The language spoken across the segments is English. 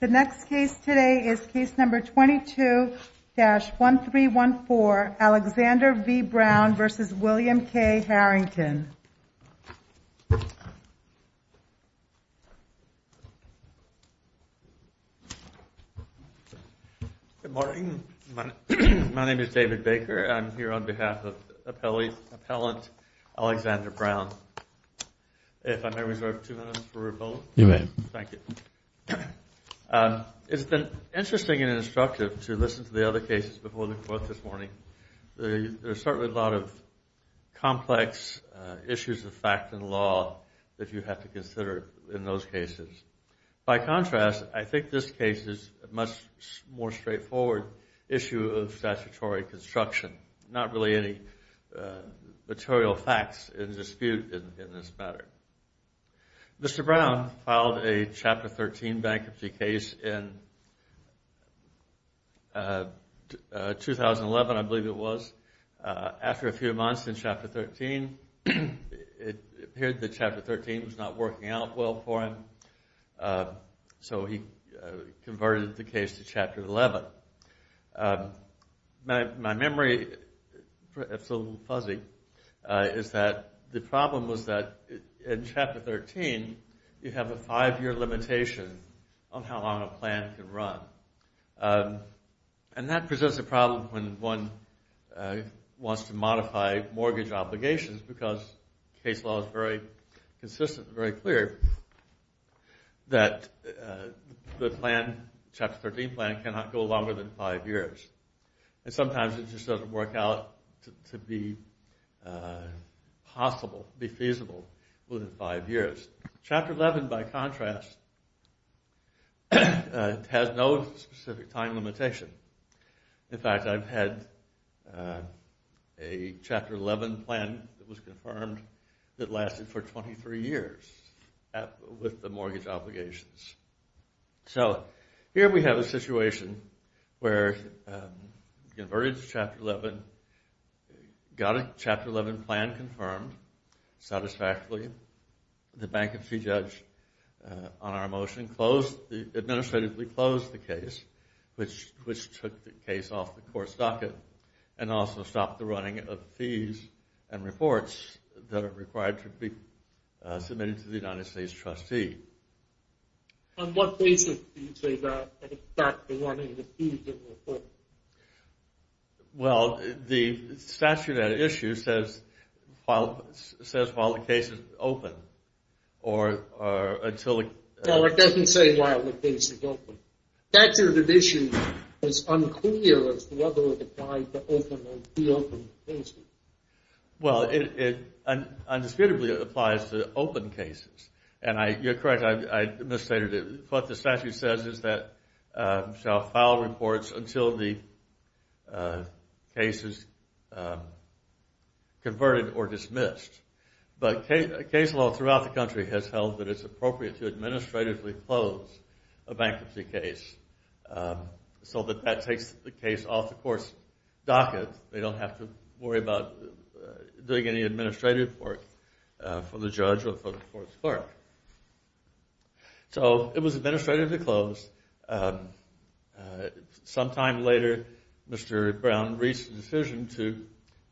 The next case today is case number 22-1314, Alexander v. Brown v. William K. Harrington. My name is David Baker. I'm here on behalf of Appellant Alexander Brown. It's been interesting and instructive to listen to the other cases before the court this morning. There are certainly a lot of complex issues of fact and law that you have to consider in those cases. By contrast, I think this case is a much more straightforward issue of statutory construction. There are not really any material facts in dispute in this matter. Mr. Brown filed a Chapter 13 bankruptcy case in 2011, I believe it was, after a few months in Chapter 13. It appeared that Chapter 13 was not working out well for him, so he converted the case to Chapter 11. My memory, it's a little fuzzy, is that the problem was that in Chapter 13, you have a five-year limitation on how long a plan can run. That presents a problem when one wants to modify mortgage obligations because case law is very consistent and very clear that the Chapter 13 plan cannot go longer than five years. Sometimes, it just doesn't work out to be feasible within five years. Chapter 11, by contrast, has no specific time limitation. In fact, I've had a Chapter 11 plan that was confirmed that lasted for 23 years with the mortgage obligations. Here we have a situation where he converted to Chapter 11, got a Chapter 11 plan confirmed satisfactorily. The bankruptcy judge on our motion administratively closed the case, which took the case off the court's docket and also stopped the running of the fees and reports that are required to be submitted to the United States trustee. On what basis do you say that stopped the running of the fees and reports? Well, the statute of that issue says while the case is open or until it... No, it doesn't say while the case is open. The statute of the issue is unclear as to whether it applies to open or reopen cases. Well, it indisputably applies to open cases. You're correct, I misstated it. What the statute says is that you shall file reports until the case is converted or dismissed. But case law throughout the country has held that it's appropriate to administratively close a bankruptcy case so that that takes the case off the court's docket. They don't have to worry about doing any administrative work for the judge or for the court's clerk. So, it was administratively closed. Sometime later, Mr. Brown reached a decision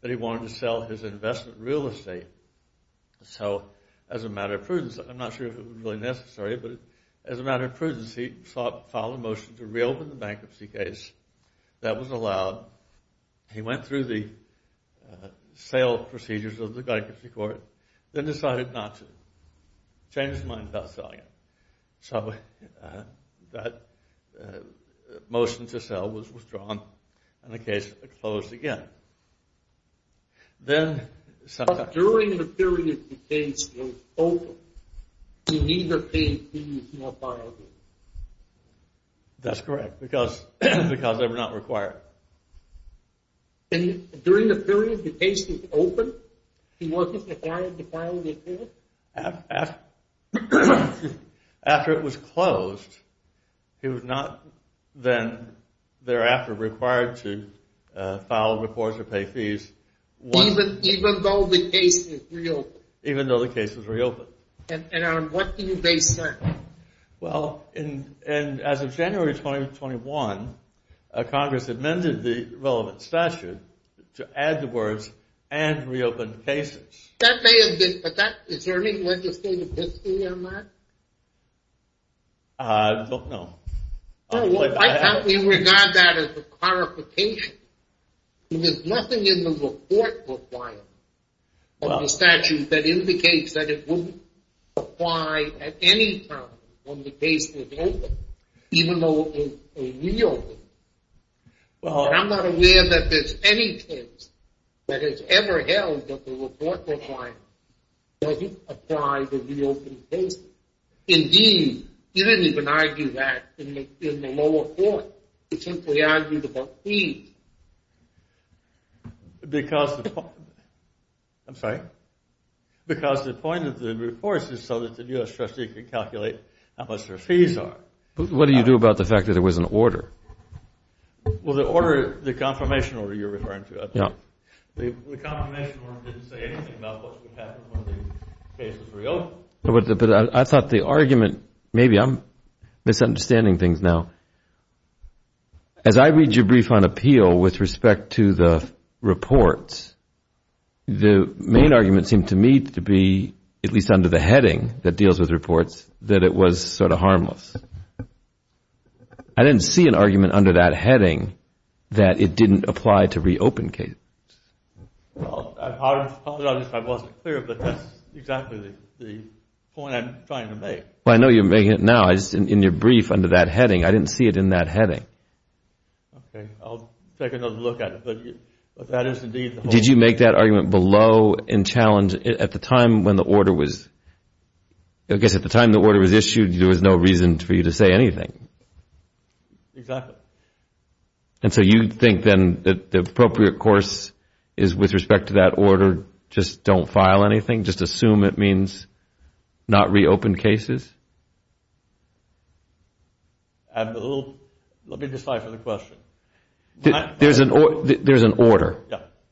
that he wanted to sell his investment real estate. So, as a matter of prudence, I'm not sure if it was really necessary, but as a matter of prudence, he filed a motion to reopen the bankruptcy case. That was allowed. He went through the sale procedures of the bankruptcy court, then decided not to. Changed his mind about selling it. So, that motion to sell was withdrawn, and the case closed again. But during the period the case was open, you neither paid fees nor filed it. That's correct, because they were not required. And during the period the case was open, he wasn't required to file a report? After it was closed, he was not then thereafter required to file reports or pay fees. Even though the case was reopened? Even though the case was reopened. And on what do you base that? Well, as of January 2021, Congress amended the relevant statute to add the words, and reopen the cases. That may have been, but is there any legislative history on that? I don't know. I thought we regard that as a clarification. There's nothing in the report requirement of the statute that indicates that it wouldn't apply at any time when the case was open, even though it was reopened. And I'm not aware that there's any case that has ever held that the report requirement doesn't apply to reopened cases. Indeed, you didn't even argue that in the lower court. You simply argued about fees. I'm sorry? Because the point of the report is so that the U.S. trustee could calculate how much their fees are. What do you do about the fact that there was an order? Well, the order, the confirmation order you're referring to. The confirmation order didn't say anything about what would happen when the case was reopened. I thought the argument, maybe I'm misunderstanding things now. As I read your brief on appeal with respect to the reports, the main argument seemed to me to be, at least under the heading that deals with reports, that it was sort of harmless. I didn't see an argument under that heading that it didn't apply to reopened cases. I apologize if I wasn't clear, but that's exactly the point I'm trying to make. Well, I know you're making it now. In your brief under that heading, I didn't see it in that heading. Okay, I'll take another look at it. Did you make that argument below in challenge? At the time when the order was issued, there was no reason for you to say anything. Exactly. And so you think then that the appropriate course is with respect to that order, just don't file anything, just assume it means not reopened cases? Let me decipher the question. There's an order,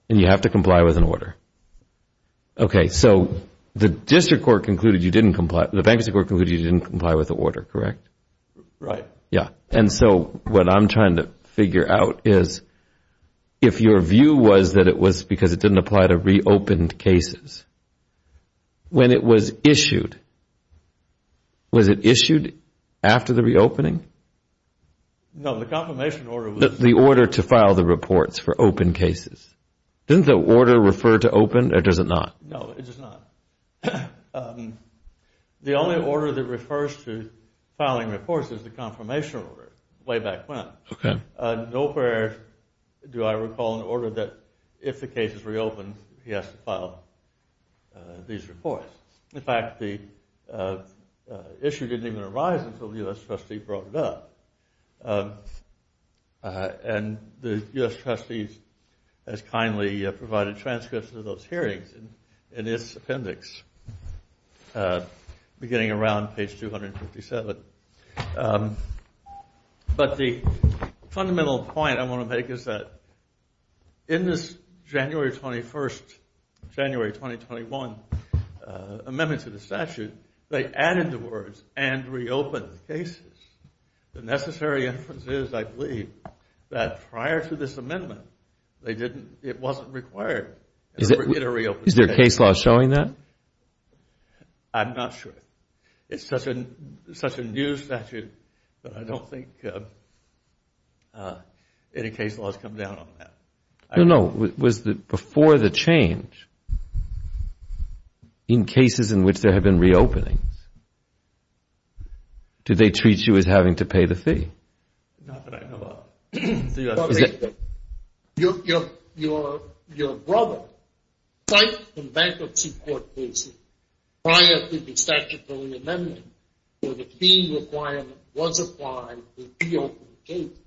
and you have to comply with an order. Okay, so the district court concluded you didn't comply, the bankruptcy court concluded you didn't comply with the order, correct? Right. Yeah, and so what I'm trying to figure out is, if your view was that it was because it didn't apply to reopened cases, when it was issued, was it issued after the reopening? No, the confirmation order was. The order to file the reports for opened cases. Didn't the order refer to opened, or does it not? No, it does not. The only order that refers to filing reports is the confirmation order, way back when. Nowhere do I recall an order that, if the case is reopened, he has to file these reports. In fact, the issue didn't even arise until the U.S. trustee brought it up. And the U.S. trustee has kindly provided transcripts of those hearings, in its appendix, beginning around page 257. But the fundamental point I want to make is that, in this January 21st, January 2021 amendment to the statute, they added the words, and reopened cases. The necessary inference is, I believe, that prior to this amendment, it wasn't required. Is there a case law showing that? I'm not sure. It's such a new statute that I don't think any case laws come down on that. No, no. Was it before the change, in cases in which there have been reopenings, did they treat you as having to pay the fee? Not that I know of. Your brother filed a bankruptcy court case prior to the statutory amendment, where the key requirement was applied to reopen cases.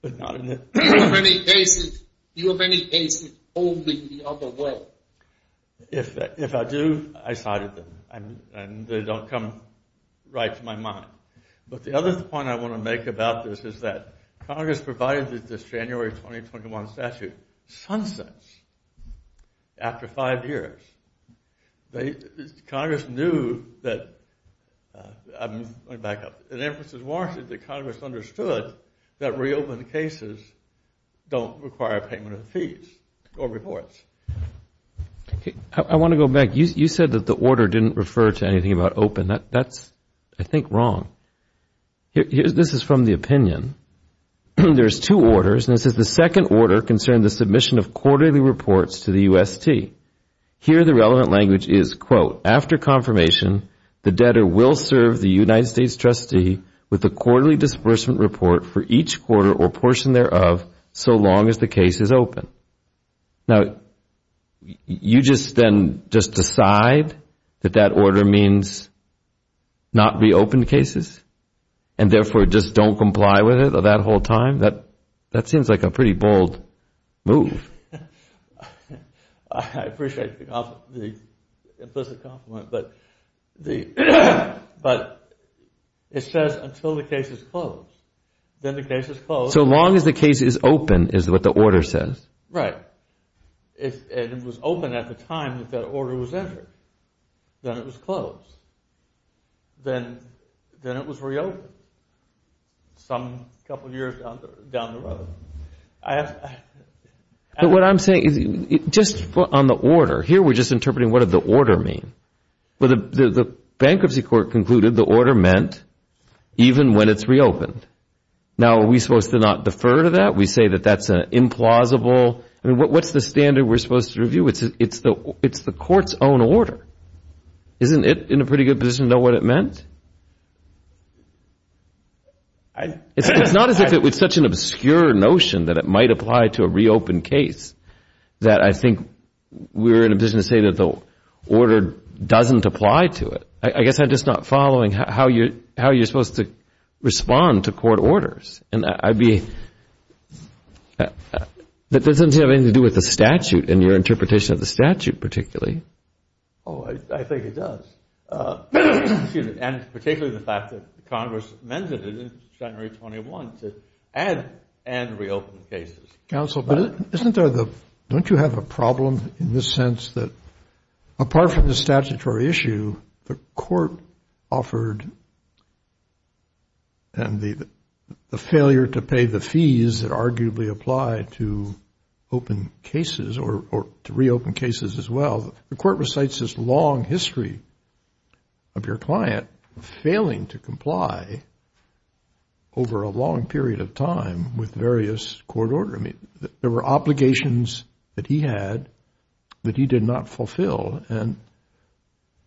But not in this. Do you have any cases holding the other way? If I do, I cited them. And they don't come right to my mind. But the other point I want to make about this is that, Congress provided this January 2021 statute, sunsets after five years. Congress knew that, I'm going back up, the inferences warranted that Congress understood that reopened cases don't require payment of fees or reports. I want to go back. You said that the order didn't refer to anything about open. That's, I think, wrong. This is from the opinion. There's two orders. And this is the second order concerning the submission of quarterly reports to the UST. Here, the relevant language is, quote, after confirmation, the debtor will serve the United States trustee with a quarterly disbursement report for each quarter or portion thereof so long as the case is open. Now, you just then just decide that that order means not reopen cases and, therefore, just don't comply with it that whole time? That seems like a pretty bold move. I appreciate the implicit compliment. But it says until the case is closed. Then the case is closed. So long as the case is open is what the order says. Right. And it was open at the time that that order was entered. Then it was closed. Then it was reopened some couple years down the road. But what I'm saying, just on the order, here we're just interpreting what did the order mean. The bankruptcy court concluded the order meant even when it's reopened. Now, are we supposed to not defer to that? We say that that's implausible. I mean, what's the standard we're supposed to review? It's the court's own order. Isn't it in a pretty good position to know what it meant? It's not as if it's such an obscure notion that it might apply to a reopened case that I think we're in a position to say that the order doesn't apply to it. I guess I'm just not following how you're supposed to respond to court orders. And that doesn't seem to have anything to do with the statute and your interpretation of the statute particularly. Oh, I think it does. And particularly the fact that Congress amended it in January 21 to add and reopen cases. Counsel, don't you have a problem in the sense that apart from the statutory issue, the court offered and the failure to pay the fees that arguably apply to open cases or to reopen cases as well, the court recites this long history of your client failing to comply over a long period of time with various court order. I mean, there were obligations that he had that he did not fulfill. And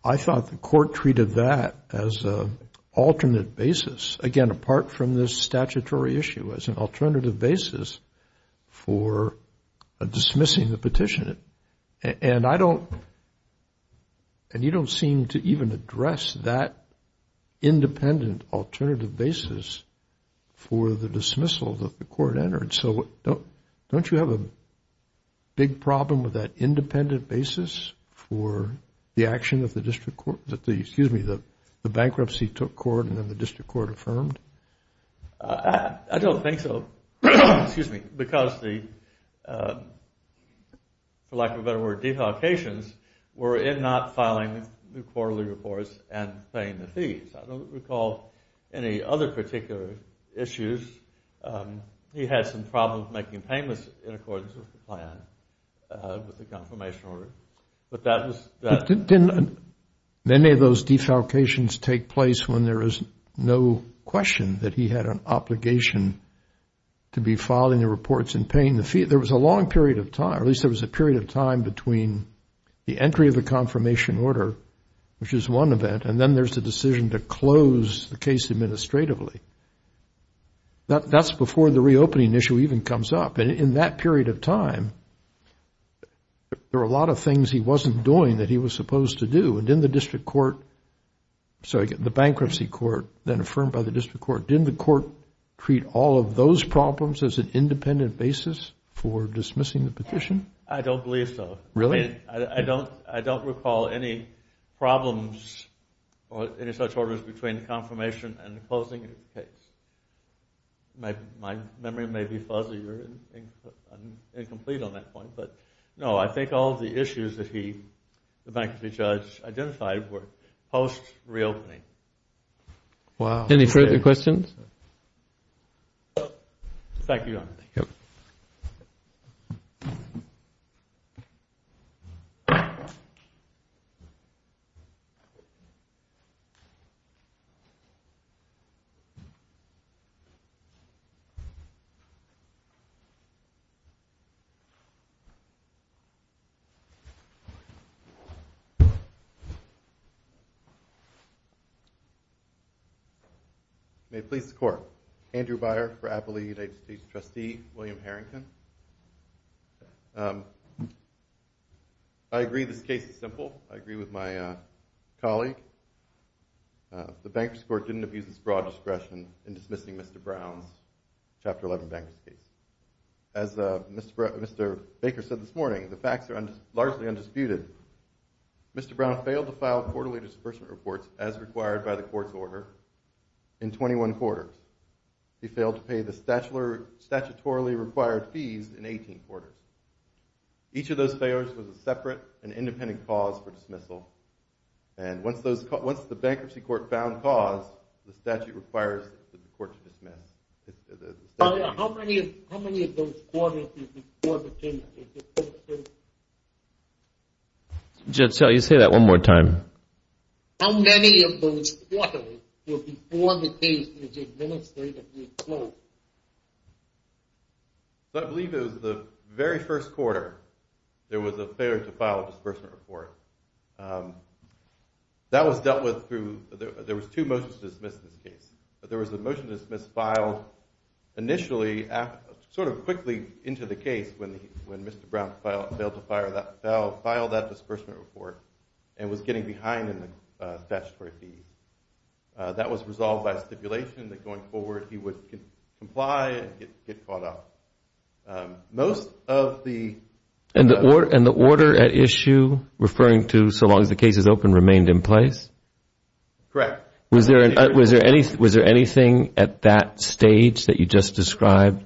I thought the court treated that as an alternate basis, again, apart from this statutory issue, as an alternative basis for dismissing the petition. And you don't seem to even address that independent alternative basis for the dismissal that the court entered. So don't you have a big problem with that independent basis for the action of the district court? Excuse me, the bankruptcy took court and then the district court affirmed? I don't think so. Excuse me, because the, for lack of a better word, deduplications were in not filing the quarterly reports and paying the fees. I don't recall any other particular issues. He had some problems making payments in accordance with the plan, with the confirmation order. But that was... Many of those defalcations take place when there is no question that he had an obligation to be filing the reports and paying the fees. There was a long period of time, at least there was a period of time, between the entry of the confirmation order, which is one event, and then there's the decision to close the case administratively. That's before the reopening issue even comes up. And in that period of time, there were a lot of things he wasn't doing that he was supposed to do. And didn't the district court, sorry, the bankruptcy court, then affirmed by the district court, didn't the court treat all of those problems as an independent basis for dismissing the petition? I don't believe so. Really? I don't recall any problems or any such orders between confirmation and the closing of the case. My memory may be fuzzy or incomplete on that point, but no, I think all of the issues that he, the bankruptcy judge, identified were post-reopening. Wow. Thank you, Your Honor. Thank you. May it please the Court. Andrew Byer for Appellee United States Trustee, William Harrington. I agree this case is simple. I agree with my colleague. The bankruptcy court didn't abuse its broad discretion in dismissing Mr. Brown's Chapter 11 bankruptcy. As Mr. Baker said this morning, the facts are largely undisputed. Mr. Brown failed to file quarterly disbursement reports as required by the court's order in 21 quarters. He failed to pay the statutorily required fees in 18 quarters. Each of those failures was a separate and independent cause for dismissal. And once the bankruptcy court found cause, the statute requires the court to dismiss. How many of those quarters were before the case was administratively closed? How many of those quarters were before the case was administratively closed? Initially, sort of quickly into the case, when Mr. Brown failed to file that disbursement report and was getting behind in the statutory fees, that was resolved by stipulation that going forward he would comply and get caught up. And the order at issue, referring to so long as the case is open, remained in place? Correct. Was there anything at that stage that you just described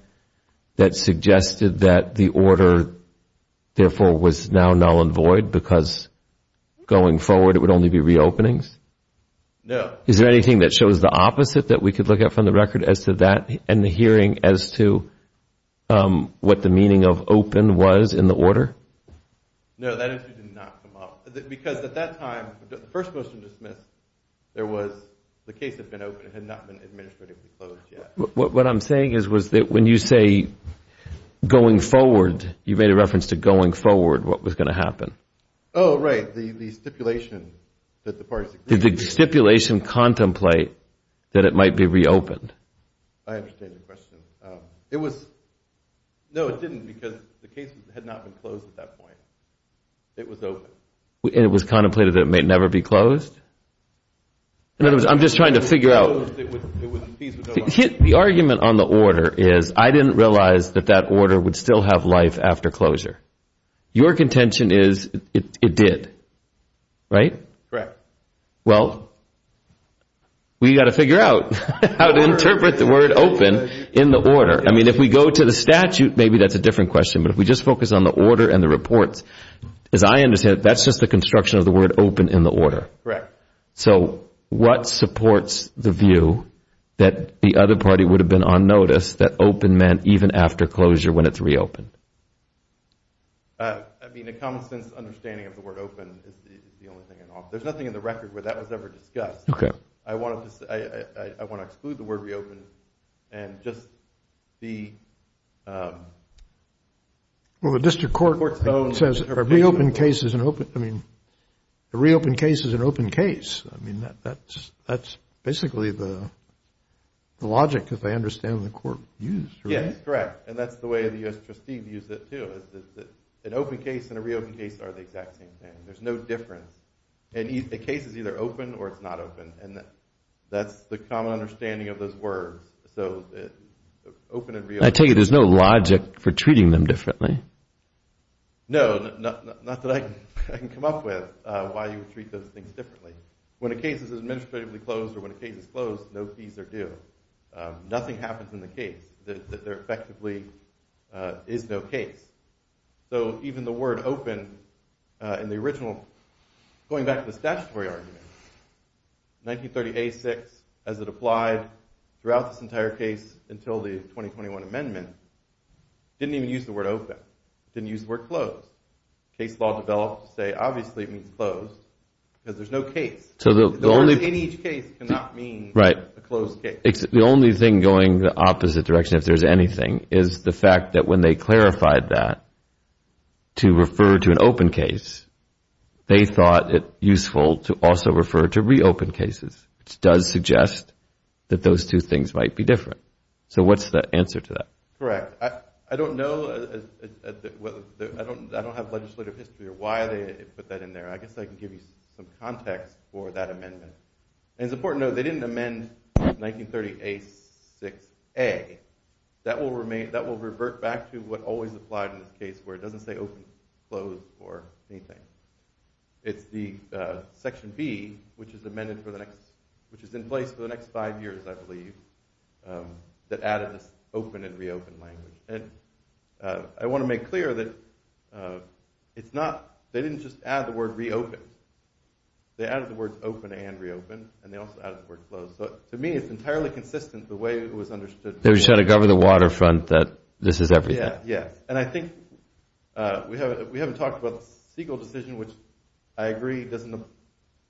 that suggested that the order, therefore, was now null and void because going forward it would only be reopenings? No. Is there anything that shows the opposite that we could look at from the record as to that and the hearing as to what the meaning of open was in the order? No, that issue did not come up. Because at that time, the first motion dismissed, the case had been open. It had not been administratively closed yet. What I'm saying is when you say going forward, you made a reference to going forward, what was going to happen? Oh, right, the stipulation that the parties agreed to. Did the stipulation contemplate that it might be reopened? I understand your question. No, it didn't because the case had not been closed at that point. It was open. And it was contemplated that it may never be closed? In other words, I'm just trying to figure out. The argument on the order is I didn't realize that that order would still have life after closure. Your contention is it did, right? Correct. Well, we've got to figure out how to interpret the word open in the order. I mean, if we go to the statute, maybe that's a different question, but if we just focus on the order and the reports, as I understand it, that's just the construction of the word open in the order. Correct. So what supports the view that the other party would have been on notice that open meant even after closure when it's reopened? I mean, a common-sense understanding of the word open is the only thing I know of. There's nothing in the record where that was ever discussed. Okay. I want to exclude the word reopen and just be… Well, the district court says a reopened case is an open… I mean, a reopened case is an open case. I mean, that's basically the logic that I understand the court used. Yes, correct. And that's the way the U.S. trustee views it, too, is that an open case and a reopened case are the exact same thing. There's no difference. A case is either open or it's not open, and that's the common understanding of those words. So open and reopened… I take it there's no logic for treating them differently. No, not that I can come up with why you would treat those things differently. When a case is administratively closed or when a case is closed, no fees are due. Nothing happens in the case that there effectively is no case. So even the word open in the original, going back to the statutory argument, 1938-6, as it applied throughout this entire case until the 2021 amendment, didn't even use the word open. It didn't use the word closed. Case law developed to say obviously it means closed because there's no case. In each case cannot mean a closed case. The only thing going the opposite direction, if there's anything, is the fact that when they clarified that to refer to an open case, they thought it useful to also refer to reopened cases, which does suggest that those two things might be different. So what's the answer to that? Correct. I don't know. I don't have legislative history or why they put that in there. I guess I can give you some context for that amendment. And it's important to note they didn't amend 1938-6A. That will revert back to what always applied in this case, where it doesn't say open, closed, or anything. It's the Section B, which is in place for the next five years, I believe, that added this open and reopened language. I want to make clear that they didn't just add the word reopened. They added the words open and reopened, and they also added the word closed. So to me, it's entirely consistent the way it was understood. They were just trying to govern the waterfront that this is everything. Yes. And I think we haven't talked about the Siegel decision, which I agree doesn't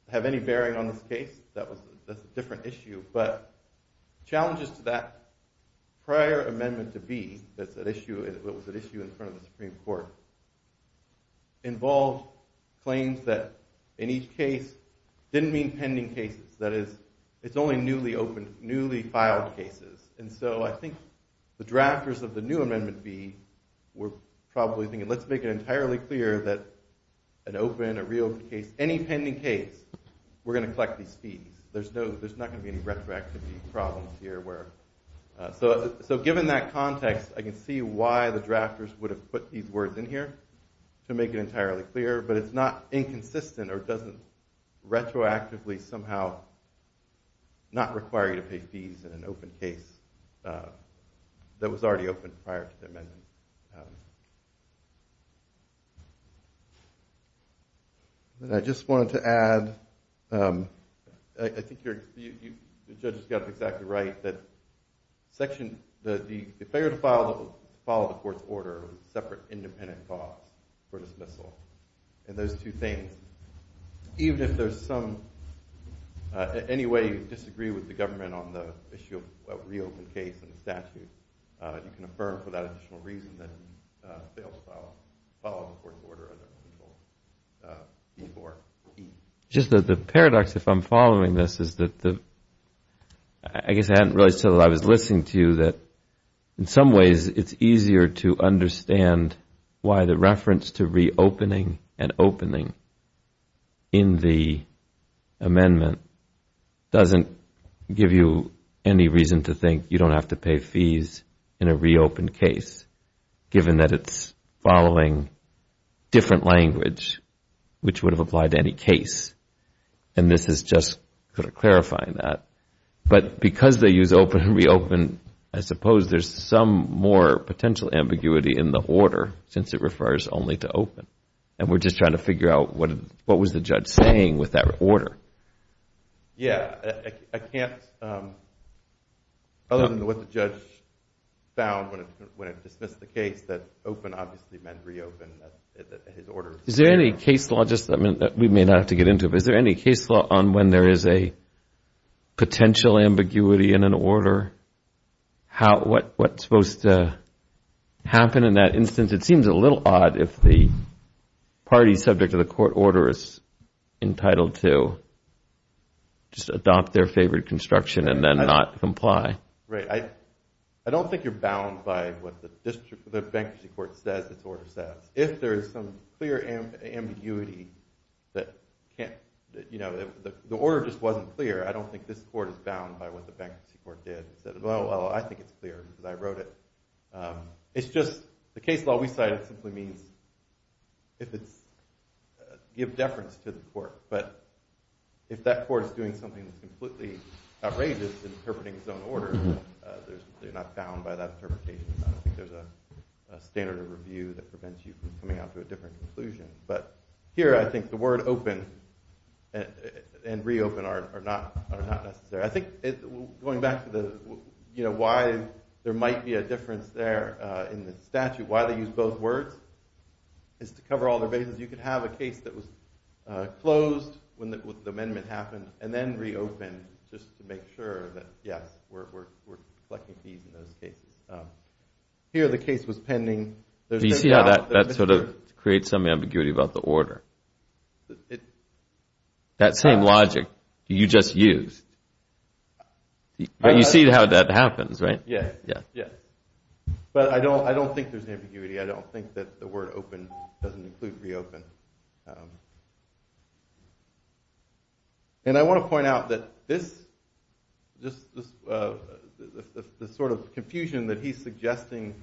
have any bearing on this case. That's a different issue. But challenges to that prior amendment to B, that was at issue in front of the Supreme Court, involved claims that in each case didn't mean pending cases. That is, it's only newly filed cases. And so I think the drafters of the new amendment B were probably thinking, let's make it entirely clear that an open, a reopened case, any pending case, we're going to collect these fees. There's not going to be any retroactivity problems here. So given that context, I can see why the drafters would have put these words in here to make it entirely clear, but it's not inconsistent or doesn't retroactively somehow not require you to pay fees in an open case that was already open prior to the amendment. And I just wanted to add, I think the judge has got it exactly right, that the failure to follow the court's order is a separate independent clause for dismissal. And those two things, even if there's some, any way you disagree with the government on the issue of a reopened case in the statute, you can affirm for that additional reason that it fails to follow the court's order. Just the paradox, if I'm following this, is that I guess I hadn't realized until I was listening to you that in some ways it's easier to understand why the reference to reopening and opening in the amendment doesn't give you any reason to think you don't have to pay fees in a reopened case, given that it's following different language which would have applied to any case. And this is just sort of clarifying that. But because they use open and reopen, I suppose there's some more potential ambiguity in the order since it refers only to open. And we're just trying to figure out what was the judge saying with that order. Yeah. I can't, other than what the judge found when it dismissed the case, that open obviously meant reopen. Is there any case law, just that we may not have to get into it, but is there any case law on when there is a potential ambiguity in an order? What's supposed to happen in that instance? It seems a little odd if the party subject to the court order is entitled to just adopt their favorite construction and then not comply. Right. I don't think you're bound by what the bankruptcy court says its order says. If there is some clear ambiguity that can't, the order just wasn't clear. I don't think this court is bound by what the bankruptcy court did. Well, I think it's clear because I wrote it. It's just the case law we cited simply means if it's give deference to the court, if that court is doing something that's completely outrageous and interpreting its own order, there's not bound by that interpretation. I don't think there's a standard of review that prevents you from coming out to a different conclusion. But here I think the word open and reopen are not, are not necessary. I think going back to the, you know why there might be a difference there in the statute, why they use both words is to cover all their bases. Because you could have a case that was closed when the amendment happened and then reopened just to make sure that yes, we're collecting fees in those cases. Here the case was pending. Do you see how that sort of creates some ambiguity about the order? That same logic you just used. You see how that happens, right? Yes. Yes. But I don't think there's ambiguity. I don't think that the word open doesn't include reopen. And I want to point out that this, this sort of confusion that he's suggesting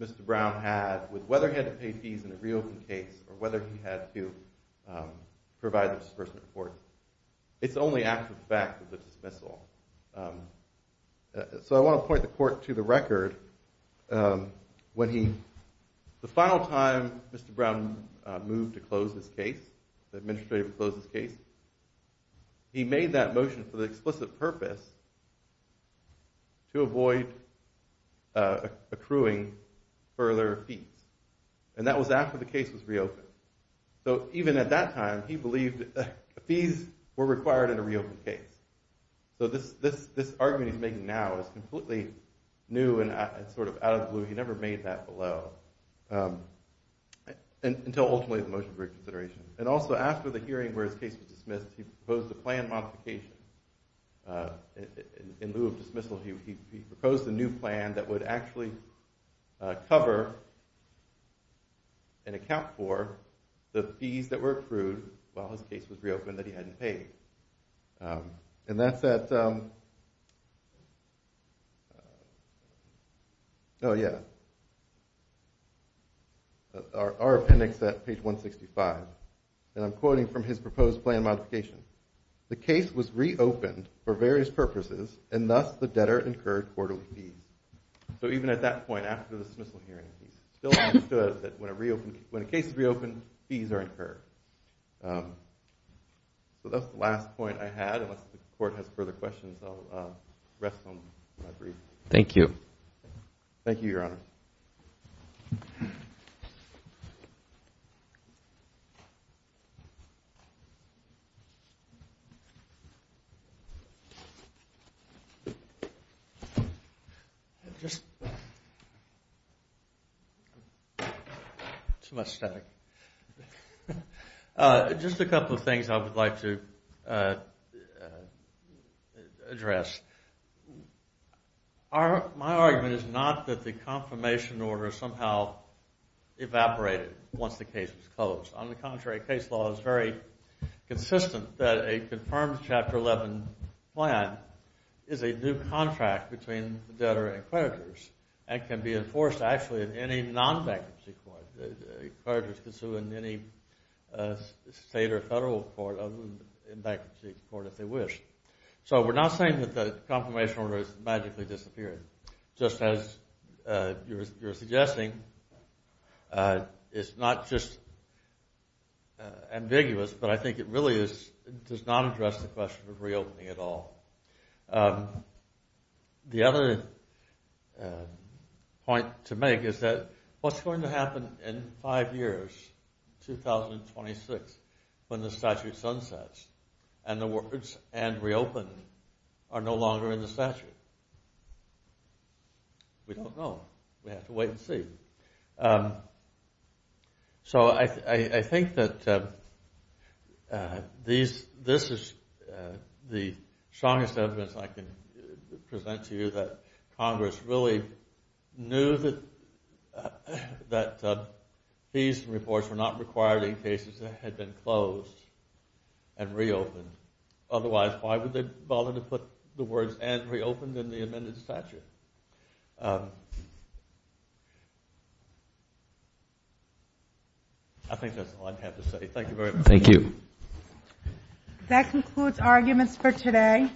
Mr. Brown had with whether he had to pay fees in a reopen case or whether he had to provide the disbursement report, it's only after the fact of the dismissal. So I want to point the court to the record. When he, the final time Mr. Brown moved to close his case, the administrator would close his case, he made that motion for the explicit purpose to avoid accruing further fees. And that was after the case was reopened. So even at that time he believed that fees were required in a reopen case. So this argument he's making now is completely new and sort of out of the blue. He never made that below until ultimately the motion for reconsideration. And also after the hearing where his case was dismissed, he proposed a plan modification in lieu of dismissal. He proposed a new plan that would actually cover and account for the fees that were accrued while his case was reopened that he hadn't paid. And that's at, oh yeah, our appendix at page 165. And I'm quoting from his proposed plan modification. The case was reopened for various purposes and thus the debtor incurred quarterly fees. So even at that point after the dismissal hearing, he still understood that when a case is reopened, fees are incurred. So that's the last point I had. Unless the court has further questions, I'll rest on my brief. Thank you. Thank you, Your Honor. Too much static. Just a couple of things I would like to address. My argument is not that the confirmation order somehow evaporated once the case was closed. On the contrary, case law is very consistent that a confirmed Chapter 11 plan is a new contract between the debtor and creditors and can be enforced actually in any non-bankruptcy court. The creditors can sue in any state or federal court other than in bankruptcy court if they wish. So we're not saying that the confirmation order has magically disappeared. Just as you're suggesting, it's not just ambiguous, but I think it really does not address the question of reopening at all. The other point to make is that what's going to happen in five years, 2026, when the statute sunsets and the words, and reopen are no longer in the statute? We don't know. We have to wait and see. So I think that this is the strongest evidence I can present to you, that Congress really knew that these reports were not required in cases that had been closed and reopened. Otherwise, why would they bother to put the words, and reopened in the amended statute? I think that's all I have to say. Thank you very much. Thank you. That concludes arguments for today.